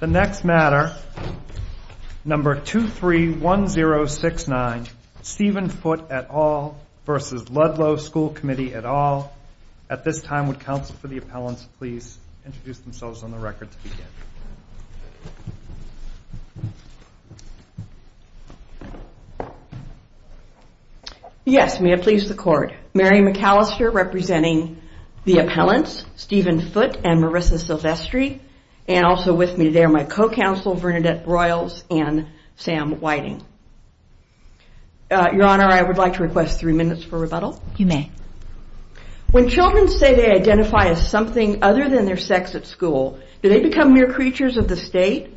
The next matter, number 231069, Stephen Foote et al. v. Ludlow School Committee et al. At this time, would counsel for the appellants please introduce themselves on the record to begin. Yes, may it please the court. Mary McAllister representing the appellants, Stephen Foote and Marissa Silvestri, and also with me there my co-counsel, Bernadette Royals and Sam Whiting. Your Honor, I would like to request three minutes for rebuttal. You may. When children say they identify as something other than their sex at school, do they become mere creatures of the state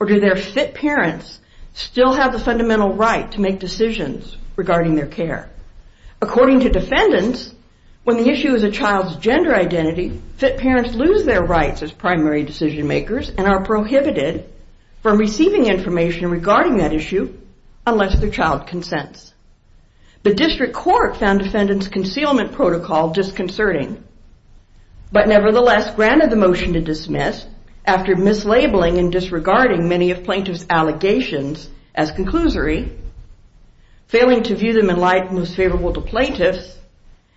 or do their fit parents still have the fundamental right to make decisions regarding their care? According to defendants, when the issue is a child's gender identity, fit parents lose their rights as primary decision makers and are prohibited from receiving information regarding that issue unless their child consents. The district court found defendants' concealment protocol disconcerting, but nevertheless granted the motion to dismiss after mislabeling and disregarding many of plaintiff's allegations as conclusory, failing to view them in light most favorable to plaintiffs,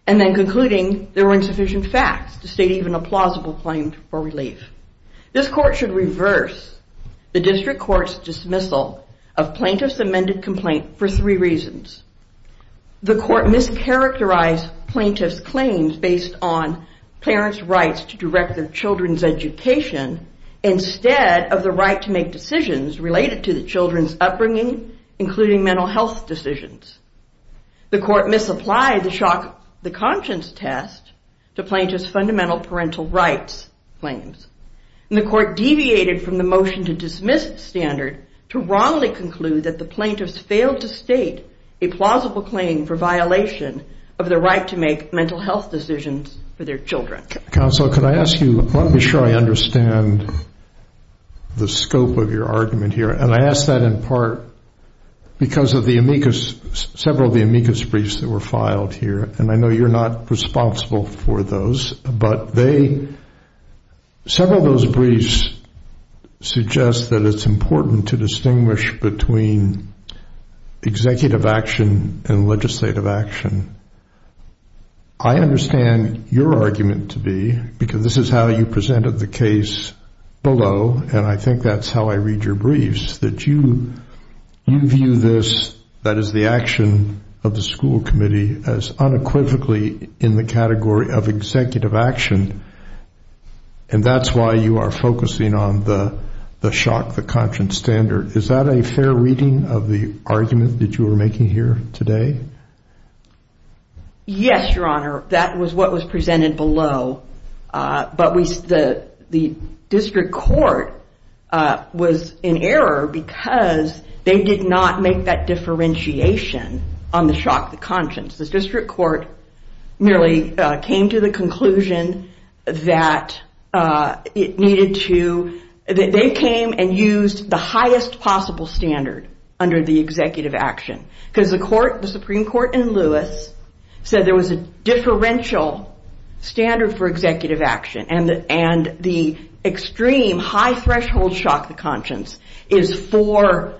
and then concluding there were insufficient facts to state even a plausible claim for relief. This court should reverse the district court's dismissal of plaintiff's amended complaint for three reasons. The court mischaracterized plaintiff's claims based on parents' rights to direct their children's education instead of the right to make decisions related to the children's upbringing, including mental health decisions. The court misapplied the shock of the conscience test to plaintiff's fundamental parental rights claims. And the court deviated from the motion to dismiss standard to wrongly conclude that the plaintiffs failed to state a plausible claim for violation of the right to make mental health decisions for their children. Counsel, can I ask you, let me sure I understand the scope of your argument here. And I ask that in part because of the amicus, several of the amicus briefs that were filed here, and I know you're not responsible for those, but they, several of those briefs suggest that it's important to distinguish between executive action and legislative action. I understand your argument to be, because this is how you presented the case below, and I think that's how I read your briefs, that you view this, that is the action of the school committee, as unequivocally in the category of executive action. And that's why you are focusing on the shock, the conscience standard. Is that a fair reading of the argument that you were making here today? Yes, Your Honor, that was what was presented below. But the district court was in error because they did not make that differentiation on the shock, the conscience. The district court merely came to the conclusion that it needed to, they came and used the highest possible standard under the executive action. Because the Supreme Court in Lewis said there was a differential standard for executive action, and the extreme high threshold shock, the conscience, is for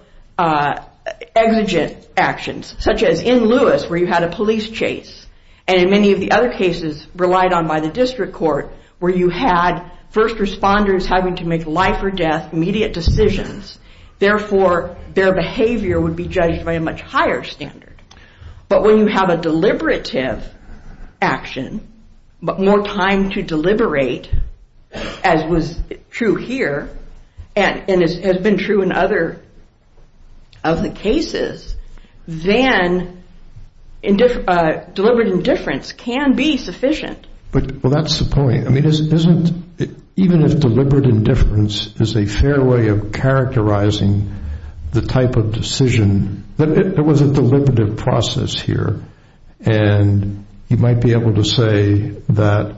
exigent actions, such as in Lewis where you had a police chase, and in many of the other cases relied on by the district court, where you had first responders having to make life or death immediate decisions, therefore their behavior would be judged by a much higher standard. But when you have a deliberative action, but more time to deliberate, as was true here, and has been true in other cases, then deliberate indifference can be sufficient. Well, that's the point. Even if deliberate indifference is a fair way of characterizing the type of decision, there was a deliberative process here, and you might be able to say that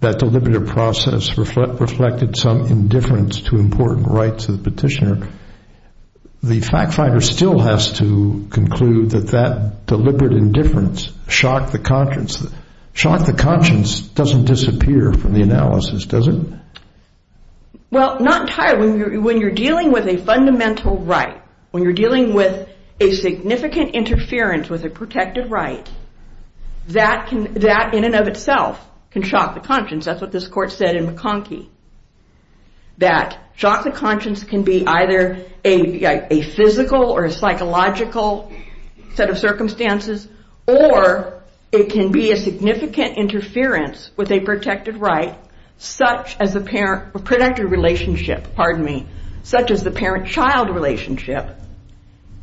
that deliberative process reflected some indifference to important rights of the petitioner. The fact finder still has to conclude that that deliberate indifference shocked the conscience. It doesn't disappear from the analysis, does it? Well, not entirely. When you're dealing with a fundamental right, when you're dealing with a significant interference with a protected right, that in and of itself can shock the conscience. That's what this court said in McConkie, that shock the conscience can be either a physical or a psychological set of circumstances, or it can be a significant interference with a protected relationship, such as the parent-child relationship.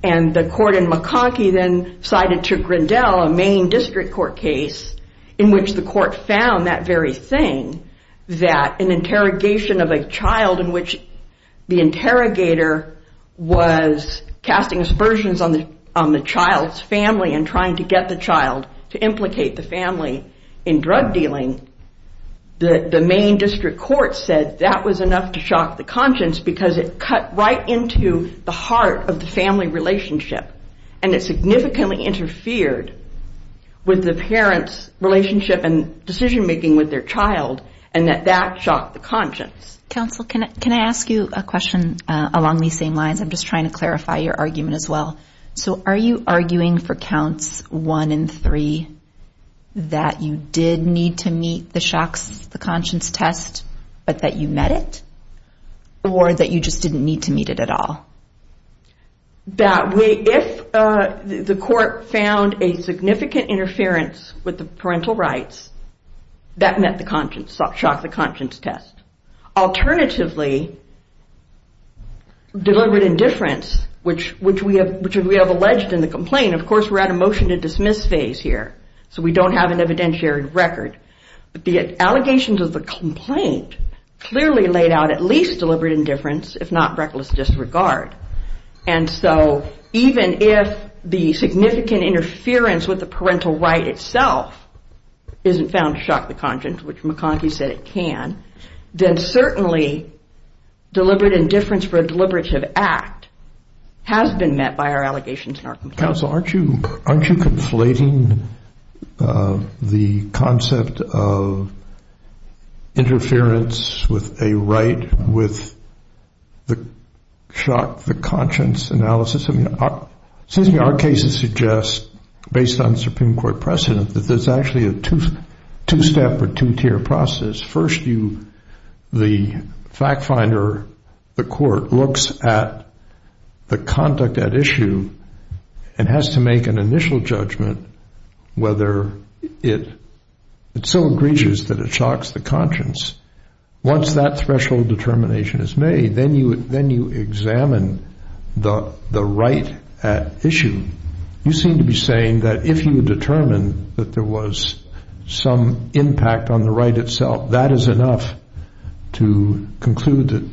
And the court in McConkie then cited to Grindel, a main district court case, in which the court found that very thing, that an interrogation of a child in which the interrogator was casting aspersions on the child's family and trying to get the child to implicate the family in drug dealing, the main district court said that was enough to shock the conscience because it cut right into the heart of the family relationship, and it significantly interfered with the parent's relationship and decision-making with their child, and that that shocked the conscience. Counsel, can I ask you a question along these same lines? I'm just trying to clarify your argument as well. So are you arguing for counts one and three that you did need to meet the shock the conscience test, but that you met it, or that you just didn't need to meet it at all? If the court found a significant interference with the parental rights, that met the shock the conscience test. Alternatively, deliberate indifference, which we have alleged in the complaint, of course we're at a motion to dismiss phase here, so we don't have an evidentiary record, but the allegations of the complaint clearly laid out at least deliberate indifference, if not reckless disregard, and so even if the significant interference with the parental right itself isn't found to shock the conscience, which McConkie said it can, then certainly deliberate indifference for a deliberative act has been met by our allegations in our complaint. Counsel, aren't you conflating the concept of interference with a right with the shock the conscience analysis? Our cases suggest, based on Supreme Court precedent, that there's actually a two-step or two-tier process. First, the fact finder, the court, looks at the conduct at issue and has to make an initial judgment whether it's so egregious that it shocks the conscience. Once that threshold determination is made, then you examine the right at issue. You seem to be saying that if you determine that there was some impact on the right itself, that is enough to conclude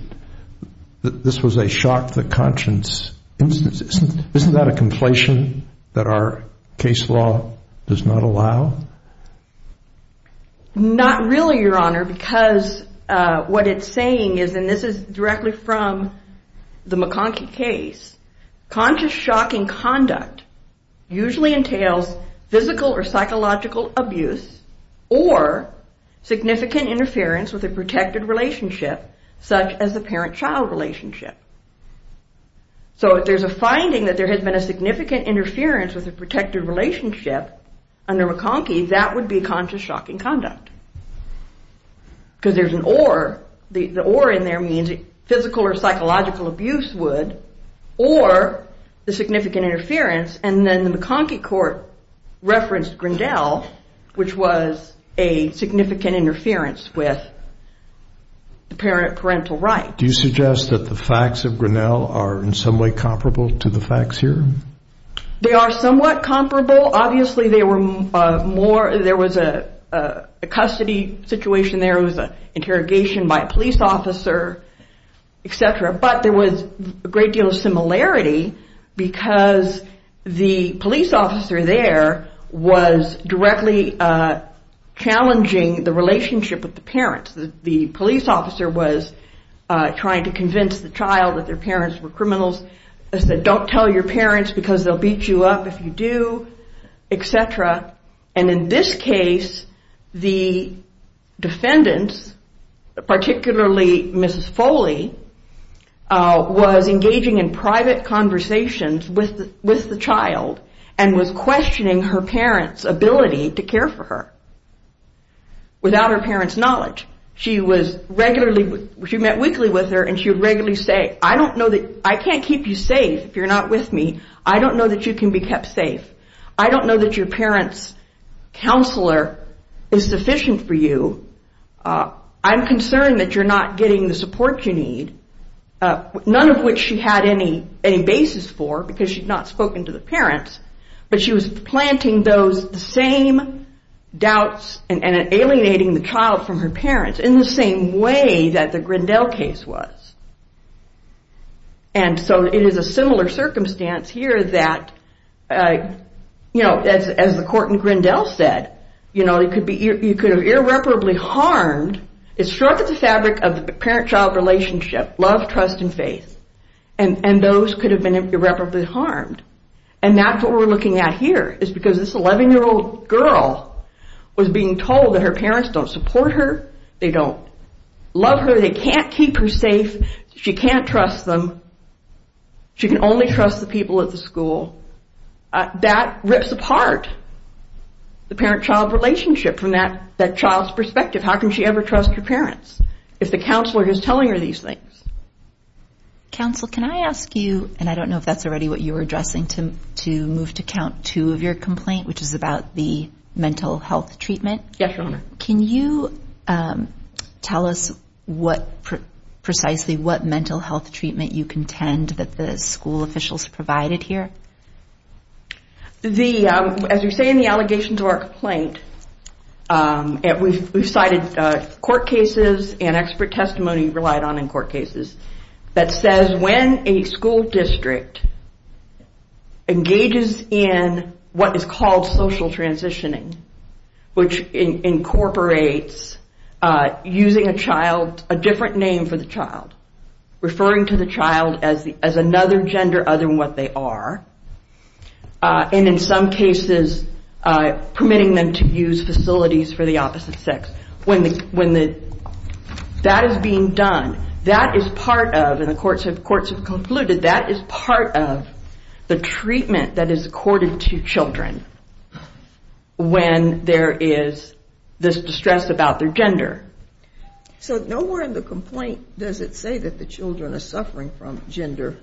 that this was a shock the conscience instance. Isn't that a conflation that our case law does not allow? Not really, Your Honor, because what it's saying is, and this is directly from the McConkie case, conscious shocking conduct usually entails physical or psychological abuse or significant interference with a protected relationship, such as a parent-child relationship. So if there's a finding that there has been a significant interference with a protected relationship under McConkie, that would be conscious shocking conduct. Because there's an or, the or in there means physical or psychological abuse would, or the significant interference. And then the McConkie court referenced Grinnell, which was a significant interference with the parental rights. Do you suggest that the facts of Grinnell are in some way comparable to the facts here? They are somewhat comparable. Obviously, there was a custody situation there. It was an interrogation by a police officer, et cetera. But there was a great deal of similarity because the police officer there was directly challenging the relationship with the parents. The police officer was trying to convince the child that their parents were criminals. They said, don't tell your parents because they'll beat you up if you do, et cetera. And in this case, the defendants, particularly Mrs. Foley, was engaging in private conversations with the child and was questioning her parents' ability to care for her without her parents' knowledge. She was regularly, she met weekly with her and she would regularly say, I don't know that, I can't keep you safe if you're not with me. I don't know that you can be kept safe. I don't know that your parents' counselor is sufficient for you. I'm concerned that you're not getting the support you need. None of which she had any basis for because she'd not spoken to the parents. But she was planting those same doubts and alienating the child from her parents in the same way that the Grinnell case was. And so it is a similar circumstance here that, you know, as the court in Grinnell said, you know, you could have irreparably harmed, it's short of the fabric of the parent-child relationship, love, trust, and faith. And those could have been irreparably harmed. And that's what we're looking at here is because this 11-year-old girl was being told that her parents don't support her, they don't love her, they can't keep her safe, she can't trust them, she can only trust the people at the school. That rips apart the parent-child relationship from that child's perspective. How can she ever trust her parents if the counselor is telling her these things? Counsel, can I ask you, and I don't know if that's already what you were addressing, to move to count two of your complaint, which is about the mental health treatment. Yes, Your Honor. Can you tell us precisely what mental health treatment you contend that the school officials provided here? As you say in the allegations of our complaint, we've cited court cases and expert testimony relied on in court cases that says when a school district engages in what is called social transitioning, which incorporates using a child, a different name for the child, referring to the child as another gender other than what they are, and in some cases permitting them to use facilities for the opposite sex. When that is being done, that is part of, and the courts have concluded, that is part of the treatment that is accorded to children when there is this distress about their gender. So nowhere in the complaint does it say that the children are suffering from gender...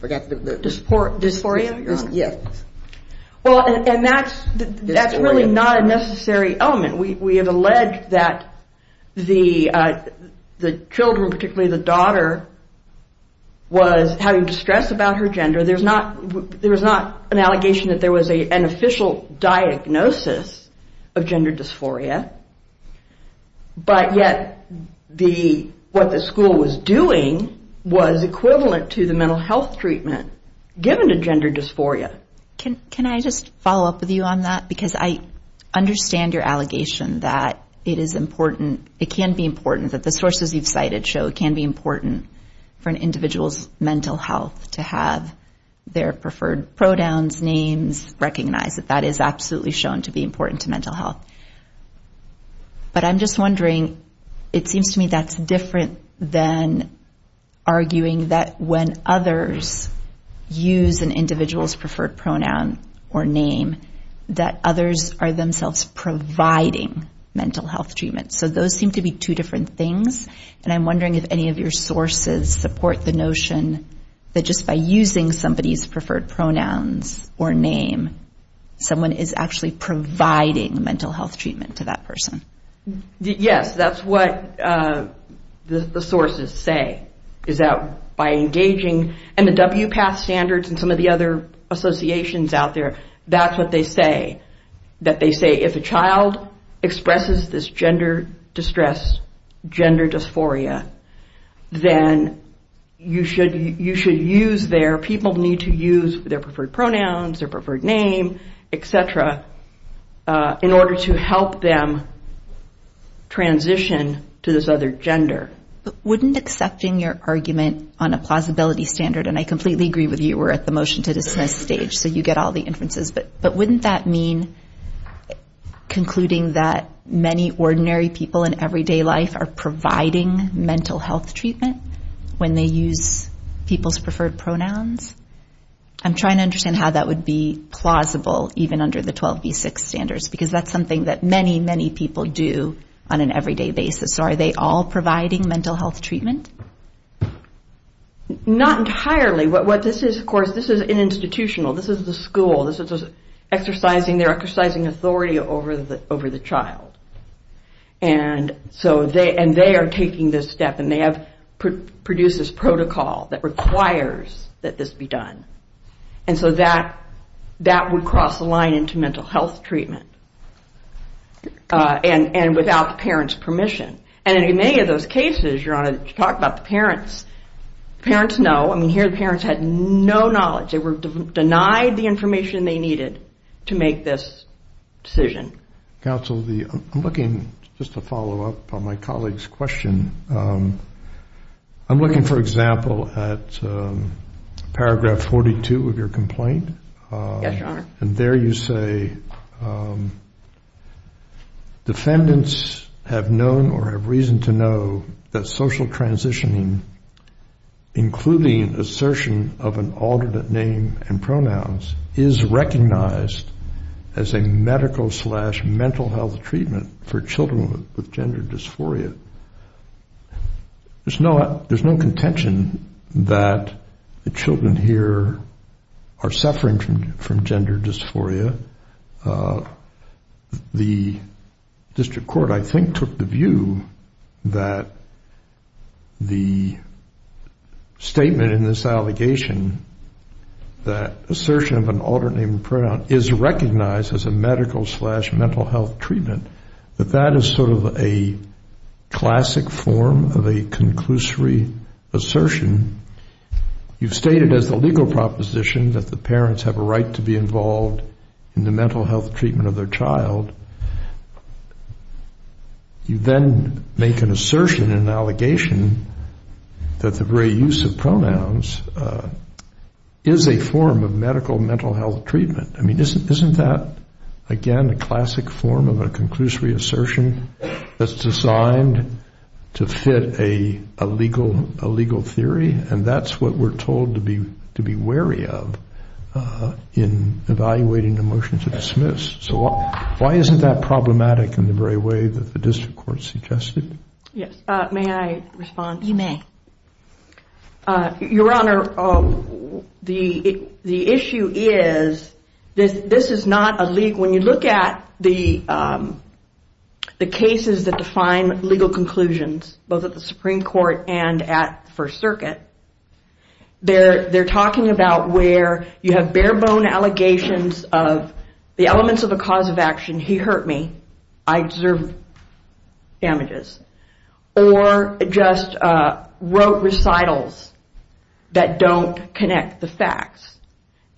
Disphoria? Yes. Well, and that's really not a necessary element. We have alleged that the children, particularly the daughter, was having distress about her gender. There was not an allegation that there was an official diagnosis of gender dysphoria, but yet what the school was doing was equivalent to the mental health treatment given to gender dysphoria. Can I just follow up with you on that? Because I understand your allegation that it is important, it can be important, that the sources you've cited show it can be important for an individual's mental health to have their preferred pronouns, names recognized, that that is absolutely shown to be important to mental health. But I'm just wondering, it seems to me that's different than arguing that when others use an individual's preferred pronoun or name, that others are themselves providing mental health treatment. So those seem to be two different things, and I'm wondering if any of your sources support the notion that just by using somebody's preferred pronouns or name, someone is actually providing mental health treatment to that person. Yes, that's what the sources say, is that by engaging, and the WPATH standards and some of the other associations out there, that's what they say, that they say if a child expresses this gender distress, gender dysphoria, then you should use their, people need to use their preferred pronouns, their preferred name, et cetera, in order to help them transition to this other gender. But wouldn't accepting your argument on a plausibility standard, and I completely agree with you, we're at the motion to dismiss stage, so you get all the inferences, but wouldn't that mean concluding that many ordinary people in everyday life are providing mental health treatment when they use people's preferred pronouns? I'm trying to understand how that would be plausible, even under the 12v6 standards, because that's something that many, many people do on an everyday basis, so are they all providing mental health treatment? Not entirely, what this is, of course, this is institutional, this is the school, this is exercising, they're exercising authority over the child. And so they are taking this step, and they have produced this protocol that requires that this be done. And so that would cross the line into mental health treatment. And without the parents' permission. And in many of those cases, Your Honor, you talk about the parents, the parents know, I mean here the parents had no knowledge, they were denied the information they needed to make this decision. Counsel, I'm looking, just to follow up on my colleague's question, I'm looking, for example, at paragraph 42 of your complaint. Yes, Your Honor. And there you say, defendants have known or have reason to know that social transitioning, including assertion of an alternate name and pronouns, is recognized as a medical slash mental health treatment for children with gender dysphoria. There's no contention that the children here are suffering from gender dysphoria. The district court, I think, took the view that the statement in this allegation that assertion of an alternate name and pronoun is recognized as a medical slash mental health treatment, that that is sort of a classic form of a conclusory assertion. You've stated as a legal proposition that the parents have a right to be involved in the mental health treatment of their child. You then make an assertion, an allegation, that the very use of pronouns is a form of medical mental health treatment. I mean, isn't that, again, a classic form of a conclusory assertion that's designed to fit a legal theory? And that's what we're told to be wary of in evaluating the motion to dismiss. So why isn't that problematic in the very way that the district court suggested? Yes, may I respond? You may. Your Honor, the issue is this is not a legal. When you look at the cases that define legal conclusions, both at the Supreme Court and at the First Circuit, they're talking about where you have bare-bone allegations of the elements of a cause of action, he hurt me, I deserve damages, or just rote recitals that don't connect the facts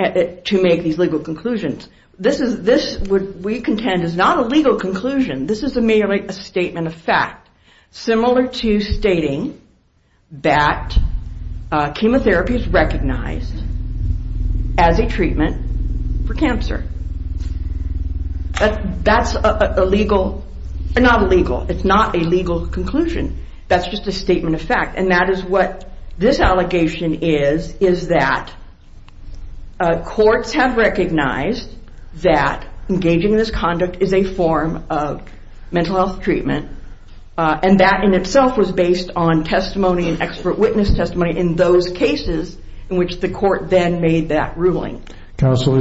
to make these legal conclusions. This, we contend, is not a legal conclusion. This is merely a statement of fact. Similar to stating that chemotherapy is recognized as a treatment for cancer. That's a legal, not legal, it's not a legal conclusion. That's just a statement of fact. And that is what this allegation is, is that courts have recognized that engaging in this conduct is a form of mental health treatment, and that in itself was based on testimony and expert witness testimony in those cases in which the court then made that ruling. Counsel,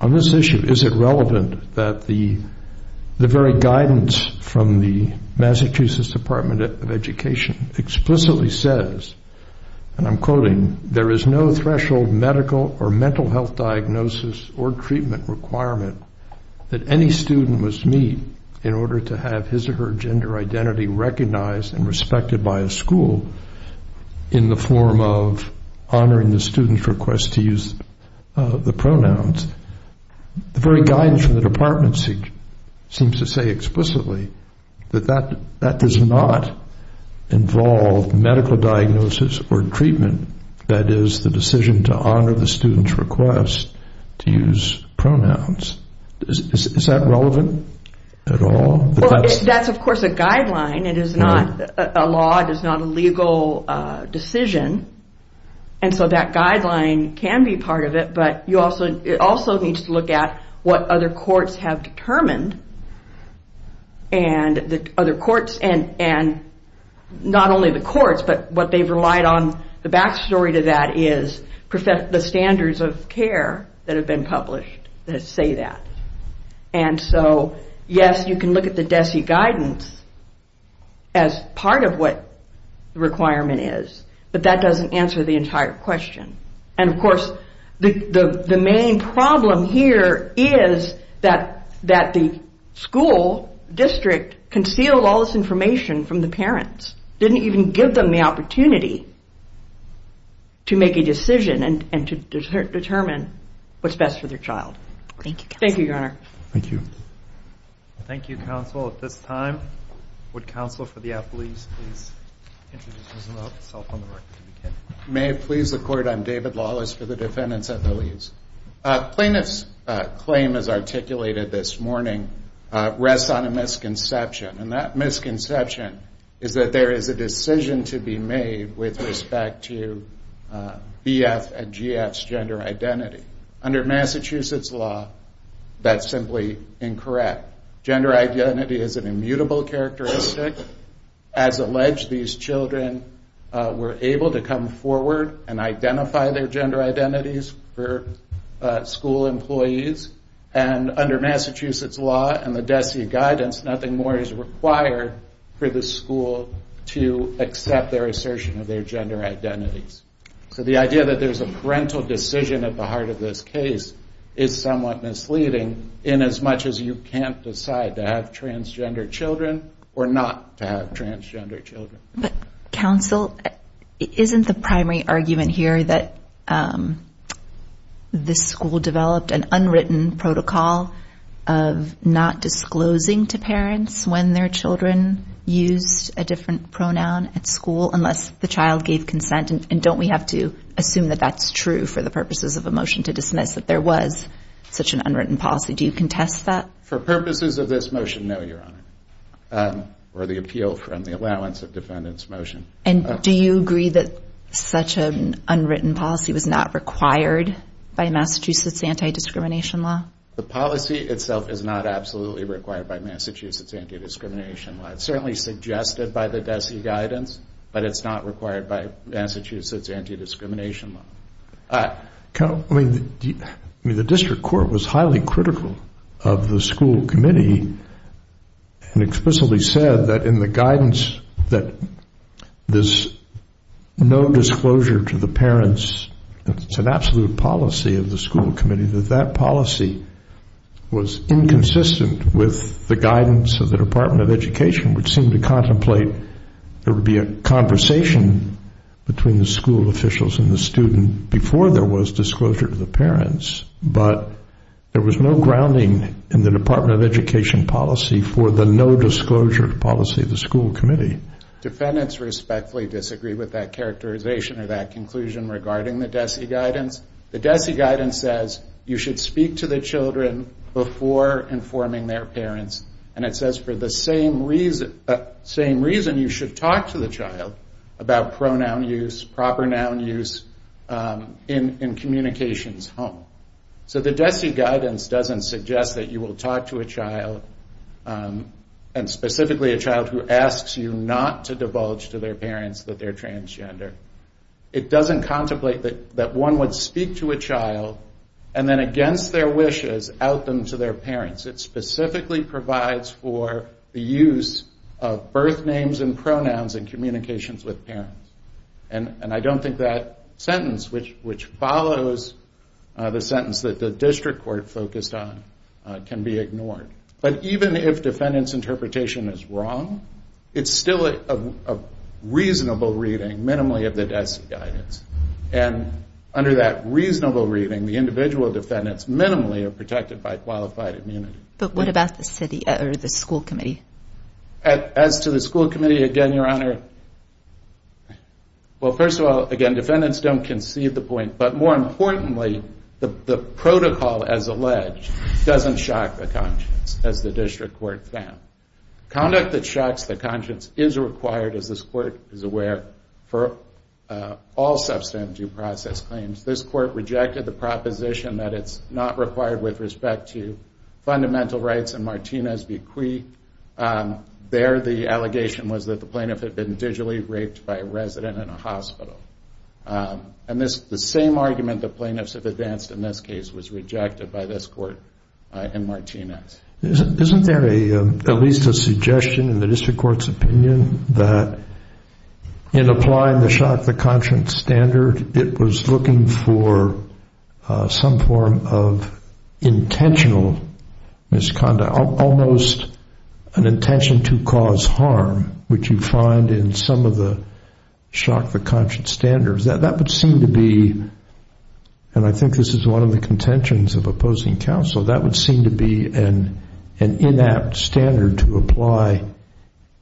on this issue, is it relevant that the very guidance from the Massachusetts Department of Education explicitly says, and I'm quoting, there is no threshold medical or mental health diagnosis or treatment requirement that any student must meet in order to have his or her gender identity recognized and respected by a school in the form of honoring the student's request to use the pronouns. The very guidance from the department seems to say explicitly that that does not involve medical diagnosis or treatment. That is, the decision to honor the student's request to use pronouns. Is that relevant at all? That's, of course, a guideline. It is not a law. It is not a legal decision. And so that guideline can be part of it, but it also needs to look at what other courts have determined, and not only the courts, but what they've relied on, the back story to that, is the standards of care that have been published that say that. And so, yes, you can look at the DESE guidance as part of what the requirement is, but that doesn't answer the entire question. And, of course, the main problem here is that the school district concealed all this information from the parents, didn't even give them the opportunity to make a decision and to determine what's best for their child. Thank you, Counsel. Thank you, Your Honor. Thank you. Thank you, Counsel. At this time, would Counsel for the Appellees please introduce themselves on the record if you can. May it please the Court, I'm David Lawless for the defendants at the leaves. Plaintiff's claim as articulated this morning rests on a misconception, and that misconception is that there is a decision to be made with respect to BF and GF's gender identity. Under Massachusetts law, that's simply incorrect. Gender identity is an immutable characteristic. As alleged, these children were able to come forward and identify their gender identities for school employees, and under Massachusetts law and the DESE guidance, nothing more is required for the school to accept their assertion of their gender identities. So the idea that there's a parental decision at the heart of this case is somewhat misleading in as much as you can't decide to have transgender children or not to have transgender children. But, Counsel, isn't the primary argument here that this school developed an unwritten protocol of not disclosing to parents when their children used a different pronoun at school unless the child gave consent? And don't we have to assume that that's true for the purposes of a motion to dismiss that there was such an unwritten policy? Do you contest that? For purposes of this motion, no, Your Honor, or the appeal from the allowance of defendant's motion. And do you agree that such an unwritten policy was not required by Massachusetts anti-discrimination law? The policy itself is not absolutely required by Massachusetts anti-discrimination law. It's certainly suggested by the DESE guidance, but it's not required by Massachusetts anti-discrimination law. I mean, the district court was highly critical of the school committee and explicitly said that in the guidance that there's no disclosure to the parents. It's an absolute policy of the school committee that that policy was inconsistent with the guidance of the Department of Education, which seemed to contemplate there would be a conversation between the school officials and the student before there was disclosure to the parents, but there was no grounding in the Department of Education policy for the no disclosure policy of the school committee. Defendants respectfully disagree with that characterization or that conclusion regarding the DESE guidance. The DESE guidance says you should speak to the children before informing their parents, and it says for the same reason you should talk to the child about pronoun use, proper noun use in communications home. So the DESE guidance doesn't suggest that you will talk to a child, and specifically a child who asks you not to divulge to their parents that they're transgender. It doesn't contemplate that one would speak to a child and then against their wishes out them to their parents. It specifically provides for the use of birth names and pronouns in communications with parents. And I don't think that sentence, which follows the sentence that the district court focused on, can be ignored. But even if defendant's interpretation is wrong, it's still a reasonable reading, minimally, of the DESE guidance. And under that reasonable reading, the individual defendants minimally are protected by qualified immunity. But what about the school committee? As to the school committee, again, Your Honor, well, first of all, again, defendants don't concede the point, but more importantly, the protocol as alleged doesn't shock the conscience, as the district court found. Conduct that shocks the conscience is required, as this court is aware, for all substantive due process claims. This court rejected the proposition that it's not required with respect to fundamental rights in Martinez v. Cui. There, the allegation was that the plaintiff had been digitally raped by a resident in a hospital. And the same argument the plaintiffs have advanced in this case was rejected by this court in Martinez. Isn't there at least a suggestion in the district court's opinion that in applying the shock the conscience standard, it was looking for some form of intentional misconduct, almost an intention to cause harm, which you find in some of the shock the conscience standards? That would seem to be, and I think this is one of the contentions of opposing counsel, that would seem to be an inapt standard to apply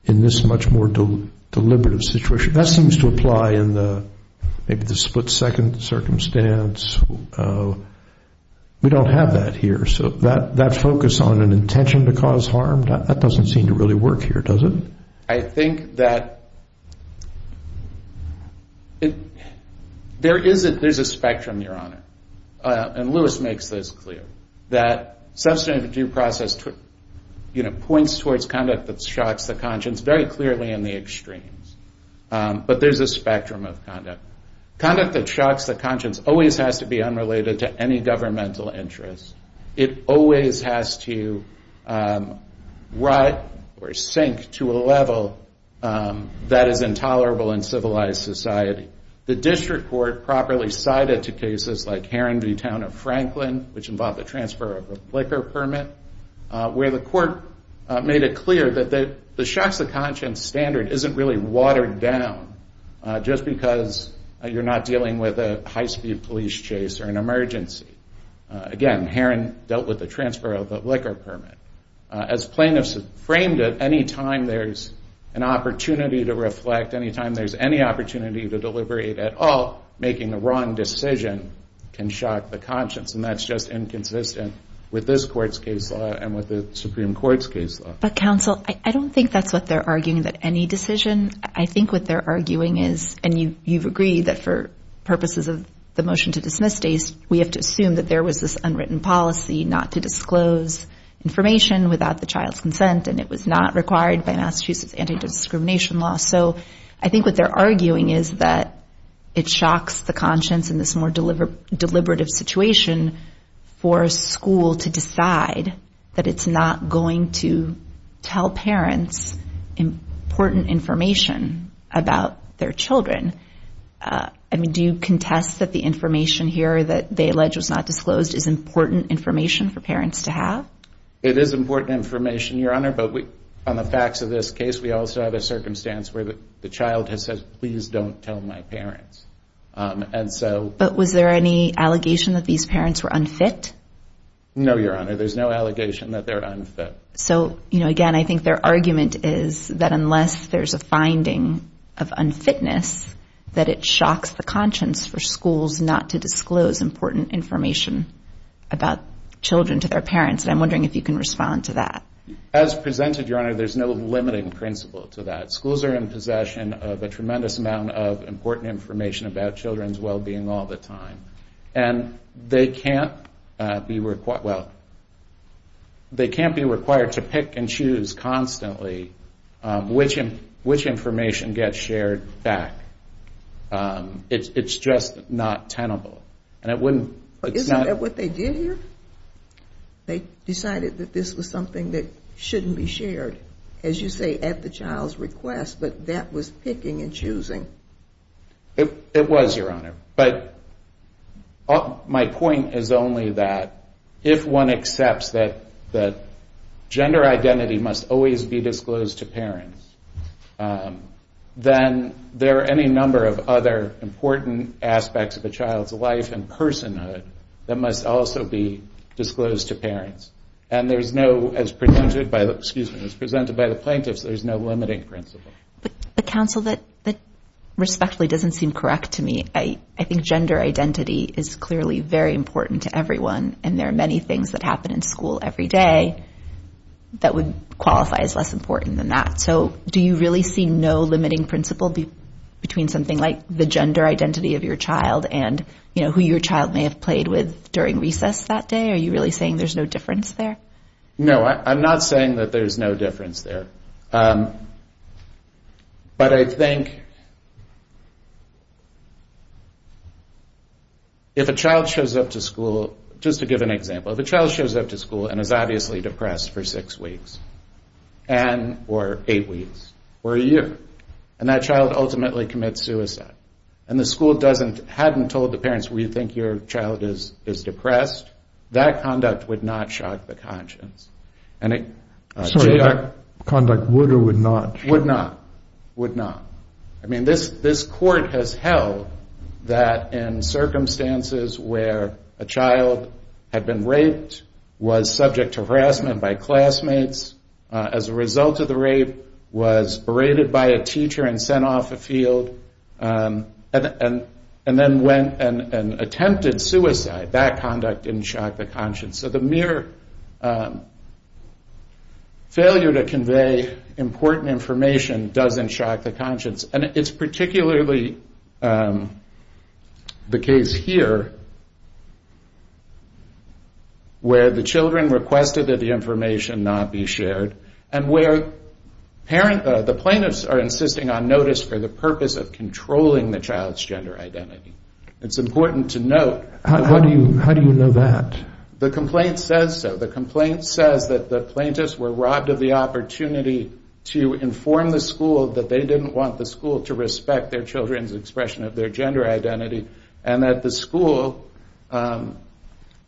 in this much more deliberative situation. That seems to apply in maybe the split-second circumstance. We don't have that here, so that focus on an intention to cause harm, that doesn't seem to really work here, does it? I think that there is a spectrum, Your Honor, and Lewis makes this clear, that substantive due process points towards conduct that shocks the conscience very clearly in the extremes. But there's a spectrum of conduct. Conduct that shocks the conscience always has to be unrelated to any governmental interest. It always has to rise or sink to a level that is intolerable in civilized society. The district court properly cited to cases like Heron v. Town of Franklin, which involved the transfer of a flicker permit, where the court made it clear that the shocks of conscience standard isn't really watered down just because you're not dealing with a high-speed police chase or an emergency. Again, Heron dealt with the transfer of the flicker permit. As plaintiffs framed it, any time there's an opportunity to reflect, any time there's any opportunity to deliberate at all, making a wrong decision can shock the conscience, and that's just inconsistent with this court's case law and with the Supreme Court's case law. But, counsel, I don't think that's what they're arguing, that any decision. I think what they're arguing is, and you've agreed, that for purposes of the motion to dismiss days, we have to assume that there was this unwritten policy not to disclose information without the child's consent, and it was not required by Massachusetts anti-discrimination law. So I think what they're arguing is that it shocks the conscience in this more deliberative situation for a school to decide that it's not going to tell parents important information about their children. Do you contest that the information here that they allege was not disclosed is important information for parents to have? It is important information, Your Honor, but on the facts of this case, we also have a circumstance where the child has said, please don't tell my parents. But was there any allegation that these parents were unfit? No, Your Honor, there's no allegation that they're unfit. So, again, I think their argument is that unless there's a finding of unfitness, that it shocks the conscience for schools not to disclose important information about children to their parents, and I'm wondering if you can respond to that. As presented, Your Honor, there's no limiting principle to that. Schools are in possession of a tremendous amount of important information about children's well-being all the time, and they can't be required to pick and choose constantly which information gets shared back. It's just not tenable. Isn't that what they did here? They decided that this was something that shouldn't be shared. As you say, at the child's request, but that was picking and choosing. It was, Your Honor, but my point is only that if one accepts that gender identity must always be disclosed to parents, then there are any number of other important aspects of a child's life and personhood that must also be disclosed to parents. And there's no, as presented by the plaintiffs, there's no limiting principle. But, counsel, that respectfully doesn't seem correct to me. I think gender identity is clearly very important to everyone, and there are many things that happen in school every day that would qualify as less important than that. So do you really see no limiting principle between something like the gender identity of your child and who your child may have played with during recess that day? Are you really saying there's no difference there? No, I'm not saying that there's no difference there. But I think if a child shows up to school, just to give an example, if a child shows up to school and is obviously depressed for six weeks or eight weeks or a year, and that child ultimately commits suicide, and the school hadn't told the parents, we think your child is depressed, that conduct would not shock the conscience. Sorry, conduct would or would not? Would not, would not. I mean, this court has held that in circumstances where a child had been raped, was subject to harassment by classmates, as a result of the rape, was berated by a teacher and sent off the field, and then went and attempted suicide, that conduct didn't shock the conscience. So the mere failure to convey important information doesn't shock the conscience. And it's particularly the case here, where the children requested that the information not be shared, and where the plaintiffs are insisting on notice for the purpose of controlling the child's gender identity. It's important to note. How do you know that? The complaint says so. The complaint says that the plaintiffs were robbed of the opportunity to inform the school that they didn't want the school to respect their children's expression of their gender identity, and that the school,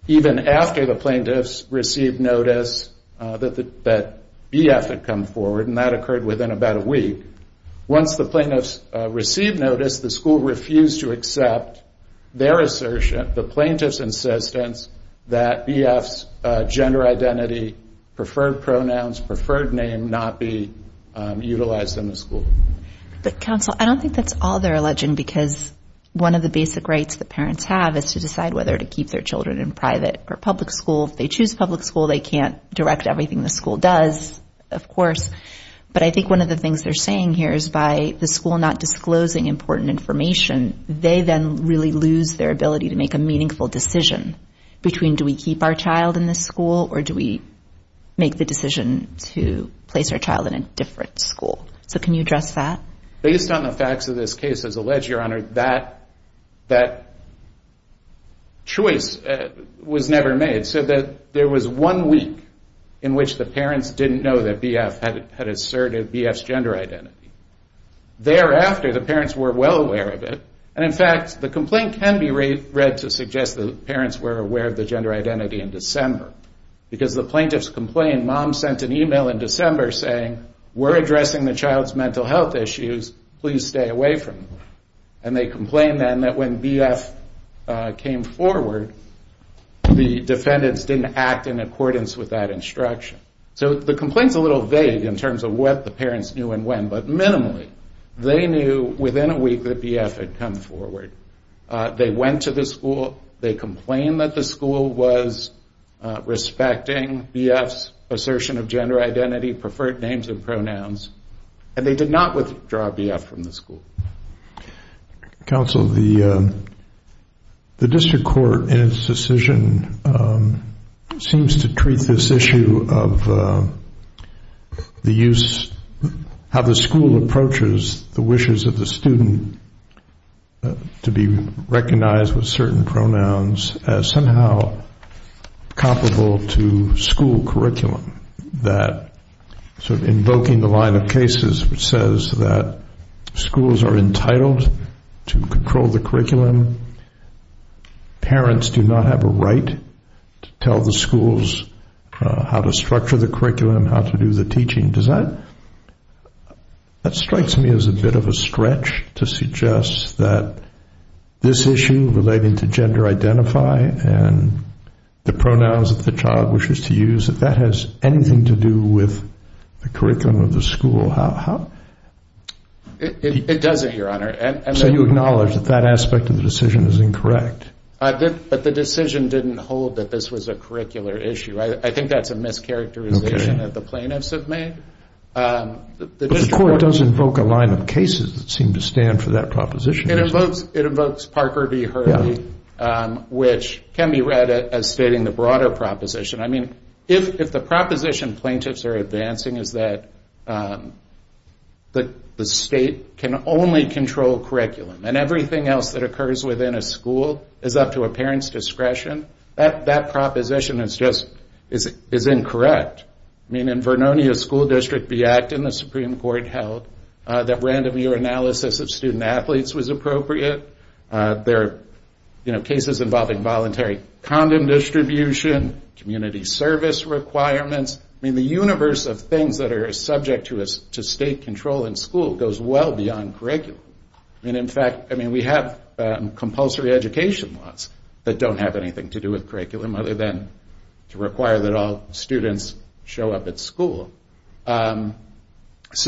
even after the plaintiffs received notice, that BF had come forward, and that occurred within about a week. Once the plaintiffs received notice, the school refused to accept their assertion, the plaintiffs' insistence, that BF's gender identity, preferred pronouns, preferred name, not be utilized in the school. But counsel, I don't think that's all they're alleging, because one of the basic rights that parents have is to decide whether to keep their children in private or public school. If they choose public school, they can't direct everything the school does, of course, but I think one of the things they're saying here is by the school not disclosing important information, they then really lose their ability to make a meaningful decision between do we keep our child in the school, or do we make the decision to place our child in a different school. So can you address that? Based on the facts of this case, as alleged, Your Honor, that choice was never made. So there was one week in which the parents didn't know that BF had asserted BF's gender identity. Thereafter, the parents were well aware of it, and in fact the complaint can be read to suggest that the parents were aware of the gender identity in December. Because the plaintiffs complained, Mom sent an email in December saying, we're addressing the child's mental health issues, please stay away from them. And they complained then that when BF came forward, the defendants didn't act in accordance with that instruction. So the complaint's a little vague in terms of what the parents knew and when, but minimally they knew within a week that BF had come forward. They went to the school, they complained that the school was respecting BF's assertion of gender identity, preferred names and pronouns, and they did not withdraw BF from the school. Counsel, the district court, in its decision, seems to treat this issue of the use, how the school approaches the wishes of the student to be recognized with certain pronouns as somehow comparable to school curriculum, that sort of invoking the line of cases which says that schools are entitled to control the curriculum. Parents do not have a right to tell the schools how to structure the curriculum, how to do the teaching. That strikes me as a bit of a stretch to suggest that this issue relating to anything to do with the curriculum of the school. It doesn't, Your Honor. So you acknowledge that that aspect of the decision is incorrect. But the decision didn't hold that this was a curricular issue. I think that's a mischaracterization that the plaintiffs have made. The court does invoke a line of cases that seem to stand for that proposition. It invokes Parker v. Hurley, which can be read as stating the broader proposition. I mean, if the proposition plaintiffs are advancing is that the state can only control curriculum and everything else that occurs within a school is up to a parent's discretion, that proposition is just incorrect. I mean, in Vernonia School District v. Acton, the Supreme Court held that random year analysis of student-athletes was appropriate. There are cases involving voluntary condom distribution, community service requirements. I mean, the universe of things that are subject to state control in school goes well beyond curriculum. I mean, in fact, we have compulsory education laws that don't have anything to do with curriculum other than to require that all students show up at school. So it's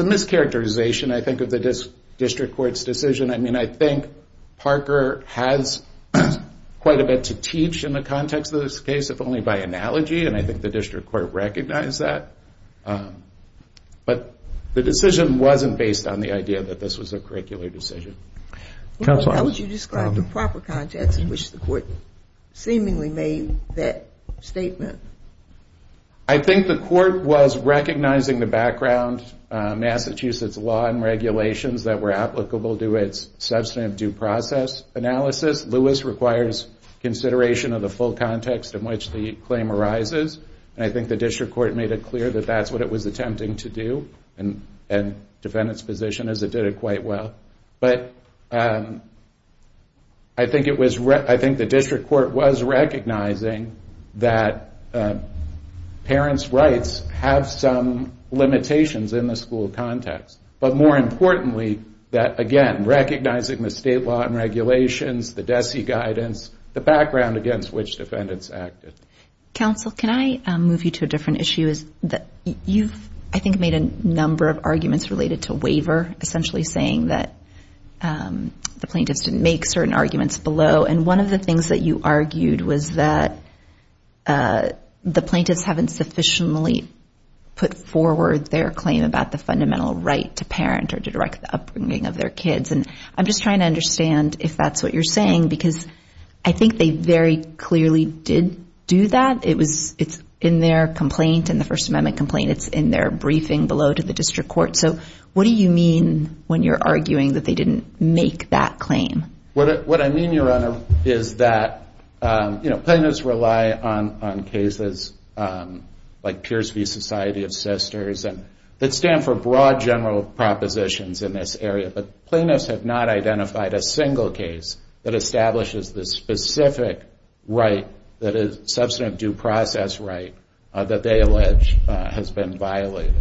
a mischaracterization, I think, of the district court's decision. I mean, I think Parker has quite a bit to teach in the context of this case, if only by analogy, and I think the district court recognized that. But the decision wasn't based on the idea that this was a curricular decision. How would you describe the proper context in which the court seemingly made that statement? I think the court was recognizing the background, Massachusetts law and regulations that were applicable to its substantive due process analysis. Lewis requires consideration of the full context in which the claim arises, and I think the district court made it clear that that's what it was attempting to do, and the defendant's position is it did it quite well. But I think the district court was recognizing that parents' rights have some limitations in the school context. But more importantly, that, again, recognizing the state law and regulations, the DESE guidance, the background against which defendants acted. Counsel, can I move you to a different issue? You've, I think, made a number of arguments related to waiver, essentially saying that the plaintiffs didn't make certain arguments below, and one of the things that you argued was that the plaintiffs haven't sufficiently put forward their claim about the fundamental right to parent or to direct the upbringing of their kids. And I'm just trying to understand if that's what you're saying because I think they very clearly did do that. It's in their complaint, in the First Amendment complaint. It's in their briefing below to the district court. So what do you mean when you're arguing that they didn't make that claim? What I mean, Your Honor, is that, you know, plaintiffs rely on cases like Pierce v. Society of Sisters that stand for broad general propositions in this area, but plaintiffs have not identified a single case that establishes the specific right that is substantive due process right that they allege has been violated.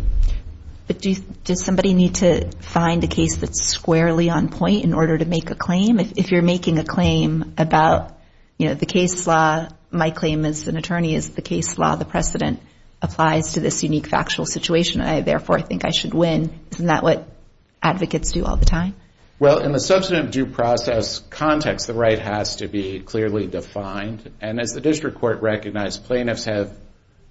But does somebody need to find a case that's squarely on point in order to make a claim? If you're making a claim about, you know, the case law, my claim as an attorney is the case law, the precedent, applies to this unique factual situation, and I therefore think I should win, isn't that what advocates do all the time? Well, in the substantive due process context, the right has to be clearly defined, and as the district court recognized, plaintiffs have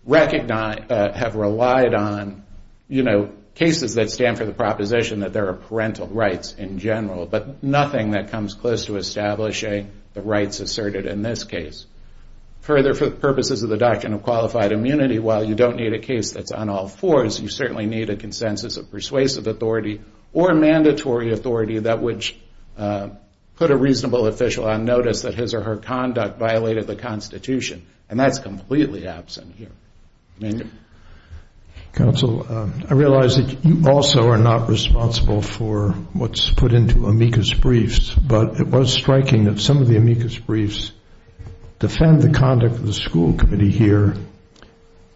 relied on, you know, cases that stand for the proposition that there are parental rights in general, but nothing that comes close to establishing the rights asserted in this case. Further, for the purposes of the Doctrine of Qualified Immunity, while you don't need a case that's on all fours, you certainly need a consensus of persuasive authority or mandatory authority that would put a reasonable official on notice that his or her conduct violated the Constitution, and that's completely absent here. Counsel, I realize that you also are not responsible for what's put into amicus briefs, but it was striking that some of the amicus briefs defend the conduct of the school committee here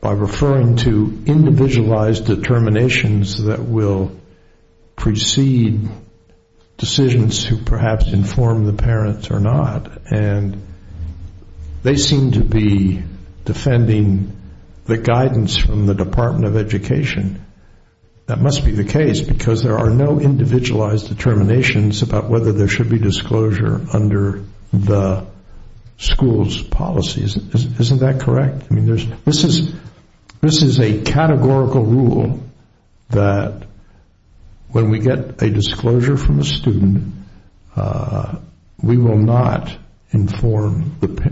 by referring to individualized determinations that will precede decisions who perhaps inform the parents or not, and they seem to be defending the guidance from the Department of Education. That must be the case, because there are no individualized determinations about whether there should be disclosure under the school's policies. Isn't that correct? This is a categorical rule that when we get a disclosure from a student, we will not inform the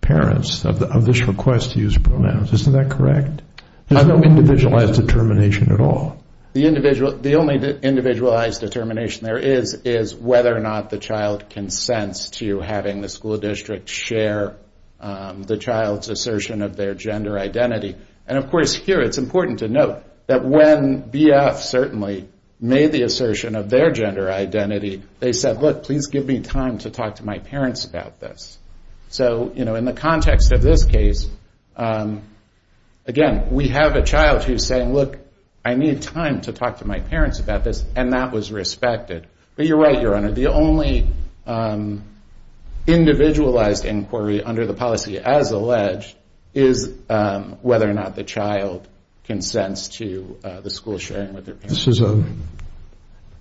parents of this request to use pronouns. Isn't that correct? There's no individualized determination at all. The only individualized determination there is is whether or not the child consents to having the school district share the child's assertion of their gender identity. And, of course, here it's important to note that when BF certainly made the assertion of their gender identity, they said, look, please give me time to talk to my parents about this. So, you know, in the context of this case, again, we have a child who's saying, look, I need time to talk to my parents about this, and that was respected. But you're right, Your Honor, the only individualized inquiry under the policy as alleged is whether or not the child consents to the school sharing with their parents. This is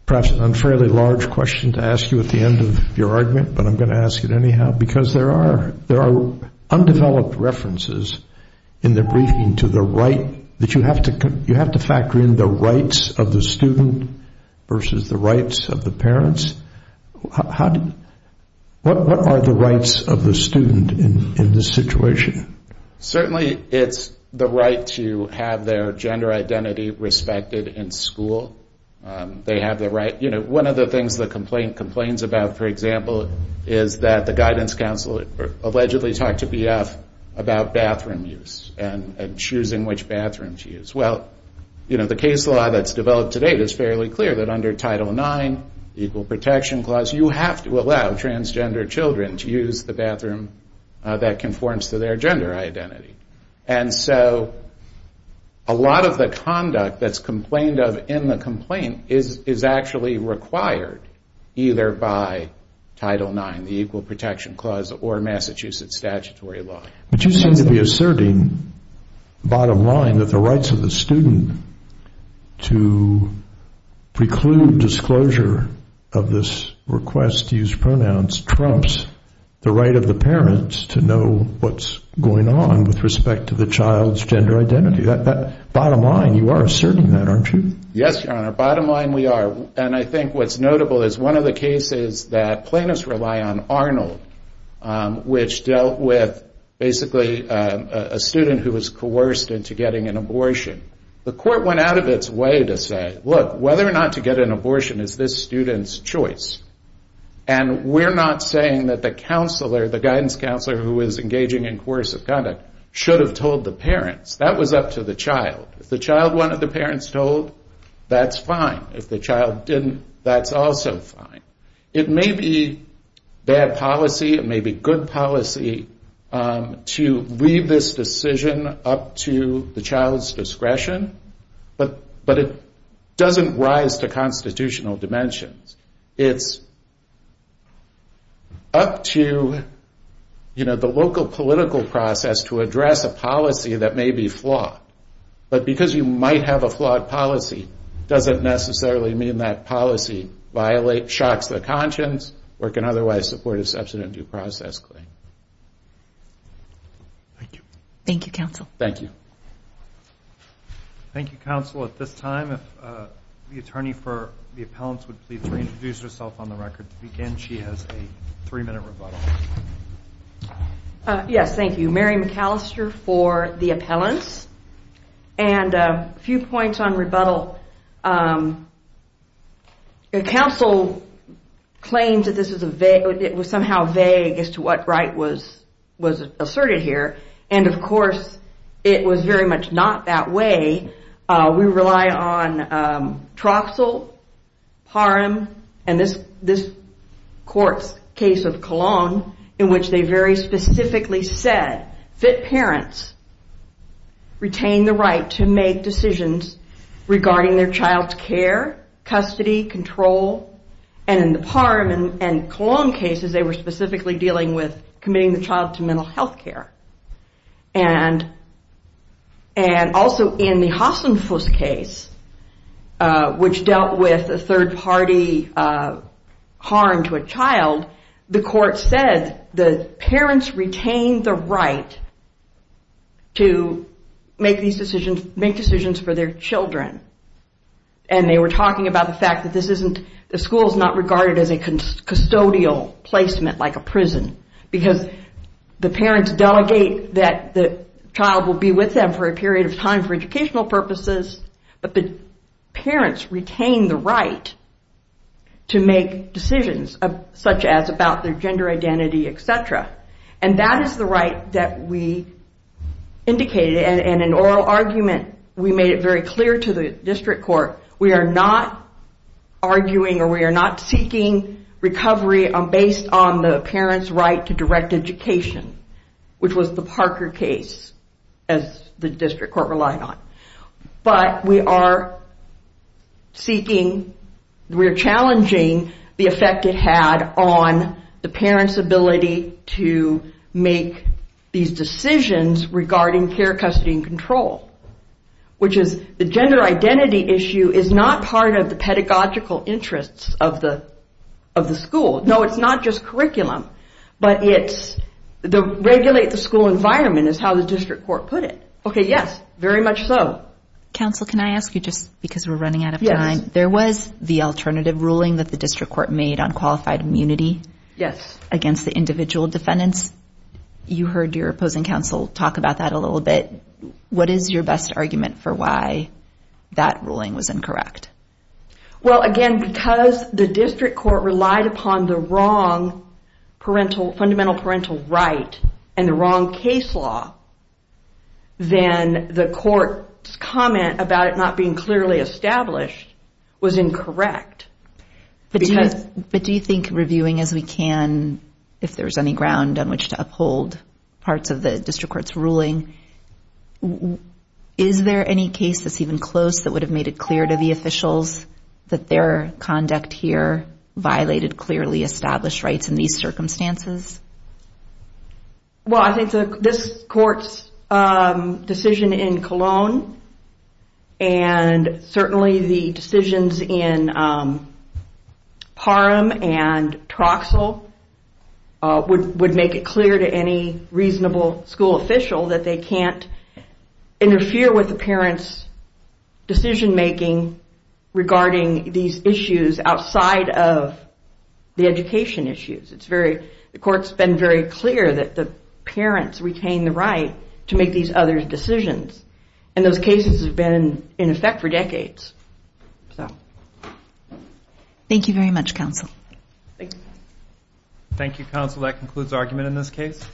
perhaps an unfairly large question to ask you at the end of your argument, but I'm going to ask it anyhow, because there are undeveloped references in the briefing to the right, that you have to factor in the rights of the student versus the rights of the parents. What are the rights of the student in this situation? Certainly it's the right to have their gender identity respected in school. They have the right. You know, one of the things the complaint complains about, for example, is that the guidance counsel allegedly talked to BF about bathroom use and choosing which bathroom to use. Well, you know, the case law that's developed today is fairly clear that under Title IX, the Equal Protection Clause, you have to allow transgender children to use the bathroom that conforms to their gender identity. And so a lot of the conduct that's complained of in the complaint is actually required either by Title IX, the Equal Protection Clause, or Massachusetts statutory law. But you seem to be asserting, bottom line, that the rights of the student to preclude disclosure of this request to use pronouns trumps the right of the parents to know what's going on with respect to the child's gender identity. Bottom line, you are asserting that, aren't you? Yes, Your Honor, bottom line we are. And I think what's notable is one of the cases that plaintiffs rely on, Arnold, which dealt with basically a student who was coerced into getting an abortion. The court went out of its way to say, look, whether or not to get an abortion is this student's choice. And we're not saying that the counselor, the guidance counselor, who is engaging in coercive conduct should have told the parents. That was up to the child. If the child wanted the parents told, that's fine. If the child didn't, that's also fine. It may be bad policy. It may be good policy to leave this decision up to the child's discretion. But it doesn't rise to constitutional dimensions. It's up to the local political process to address a policy that may be flawed. But because you might have a flawed policy, doesn't necessarily mean that policy shocks the conscience or can otherwise support a substantive due process claim. Thank you. Thank you, counsel. Thank you. Thank you, counsel. At this time, if the attorney for the appellants would please reintroduce herself on the record to begin. She has a three-minute rebuttal. Yes, thank you. Mary McAllister for the appellants. And a few points on rebuttal. Counsel claims that it was somehow vague as to what right was asserted here. And, of course, it was very much not that way. We rely on Troxell, Parham, and this court's case of Cologne in which they very specifically said that parents retain the right to make decisions regarding their child's care, custody, control. And in the Parham and Cologne cases, they were specifically dealing with committing the child to mental health care. And also in the Hassenfuss case, the court said that parents retain the right to make decisions for their children. And they were talking about the fact that the school is not regarded as a custodial placement like a prison because the parents delegate that the child will be with them for a period of time for educational purposes, but the parents retain the right to make decisions such as about their gender identity, et cetera. And that is the right that we indicated. And in oral argument, we made it very clear to the district court, we are not arguing or we are not seeking recovery based on the parent's right to direct education, which was the Parker case, as the district court relied on. But we are seeking, we are challenging the effect it had on the parent's ability to make these decisions regarding care, custody, and control, which is the gender identity issue is not part of the pedagogical interests of the school. No, it's not just curriculum, but regulate the school environment is how the district court put it. Okay, yes, very much so. Counsel, can I ask you, just because we're running out of time, there was the alternative ruling that the district court made on qualified immunity against the individual defendants. You heard your opposing counsel talk about that a little bit. What is your best argument for why that ruling was incorrect? Well, again, because the district court relied upon the wrong parental, fundamental parental right and the wrong case law, then the court's comment about it not being clearly established was incorrect. But do you think, reviewing as we can, if there's any ground on which to uphold parts of the district court's ruling, is there any case that's even close that would have made it clear to the officials that their conduct here violated clearly established rights in these circumstances? Well, I think this court's decision in Colon, and certainly the decisions in Parham and Troxell, would make it clear to any reasonable school official that they can't interfere with the parents' decision-making regarding these issues outside of the education issues. The court's been very clear that the parents retain the right to make these other decisions, and those cases have been in effect for decades. Thank you very much, counsel. Thank you, counsel. That concludes argument in this case.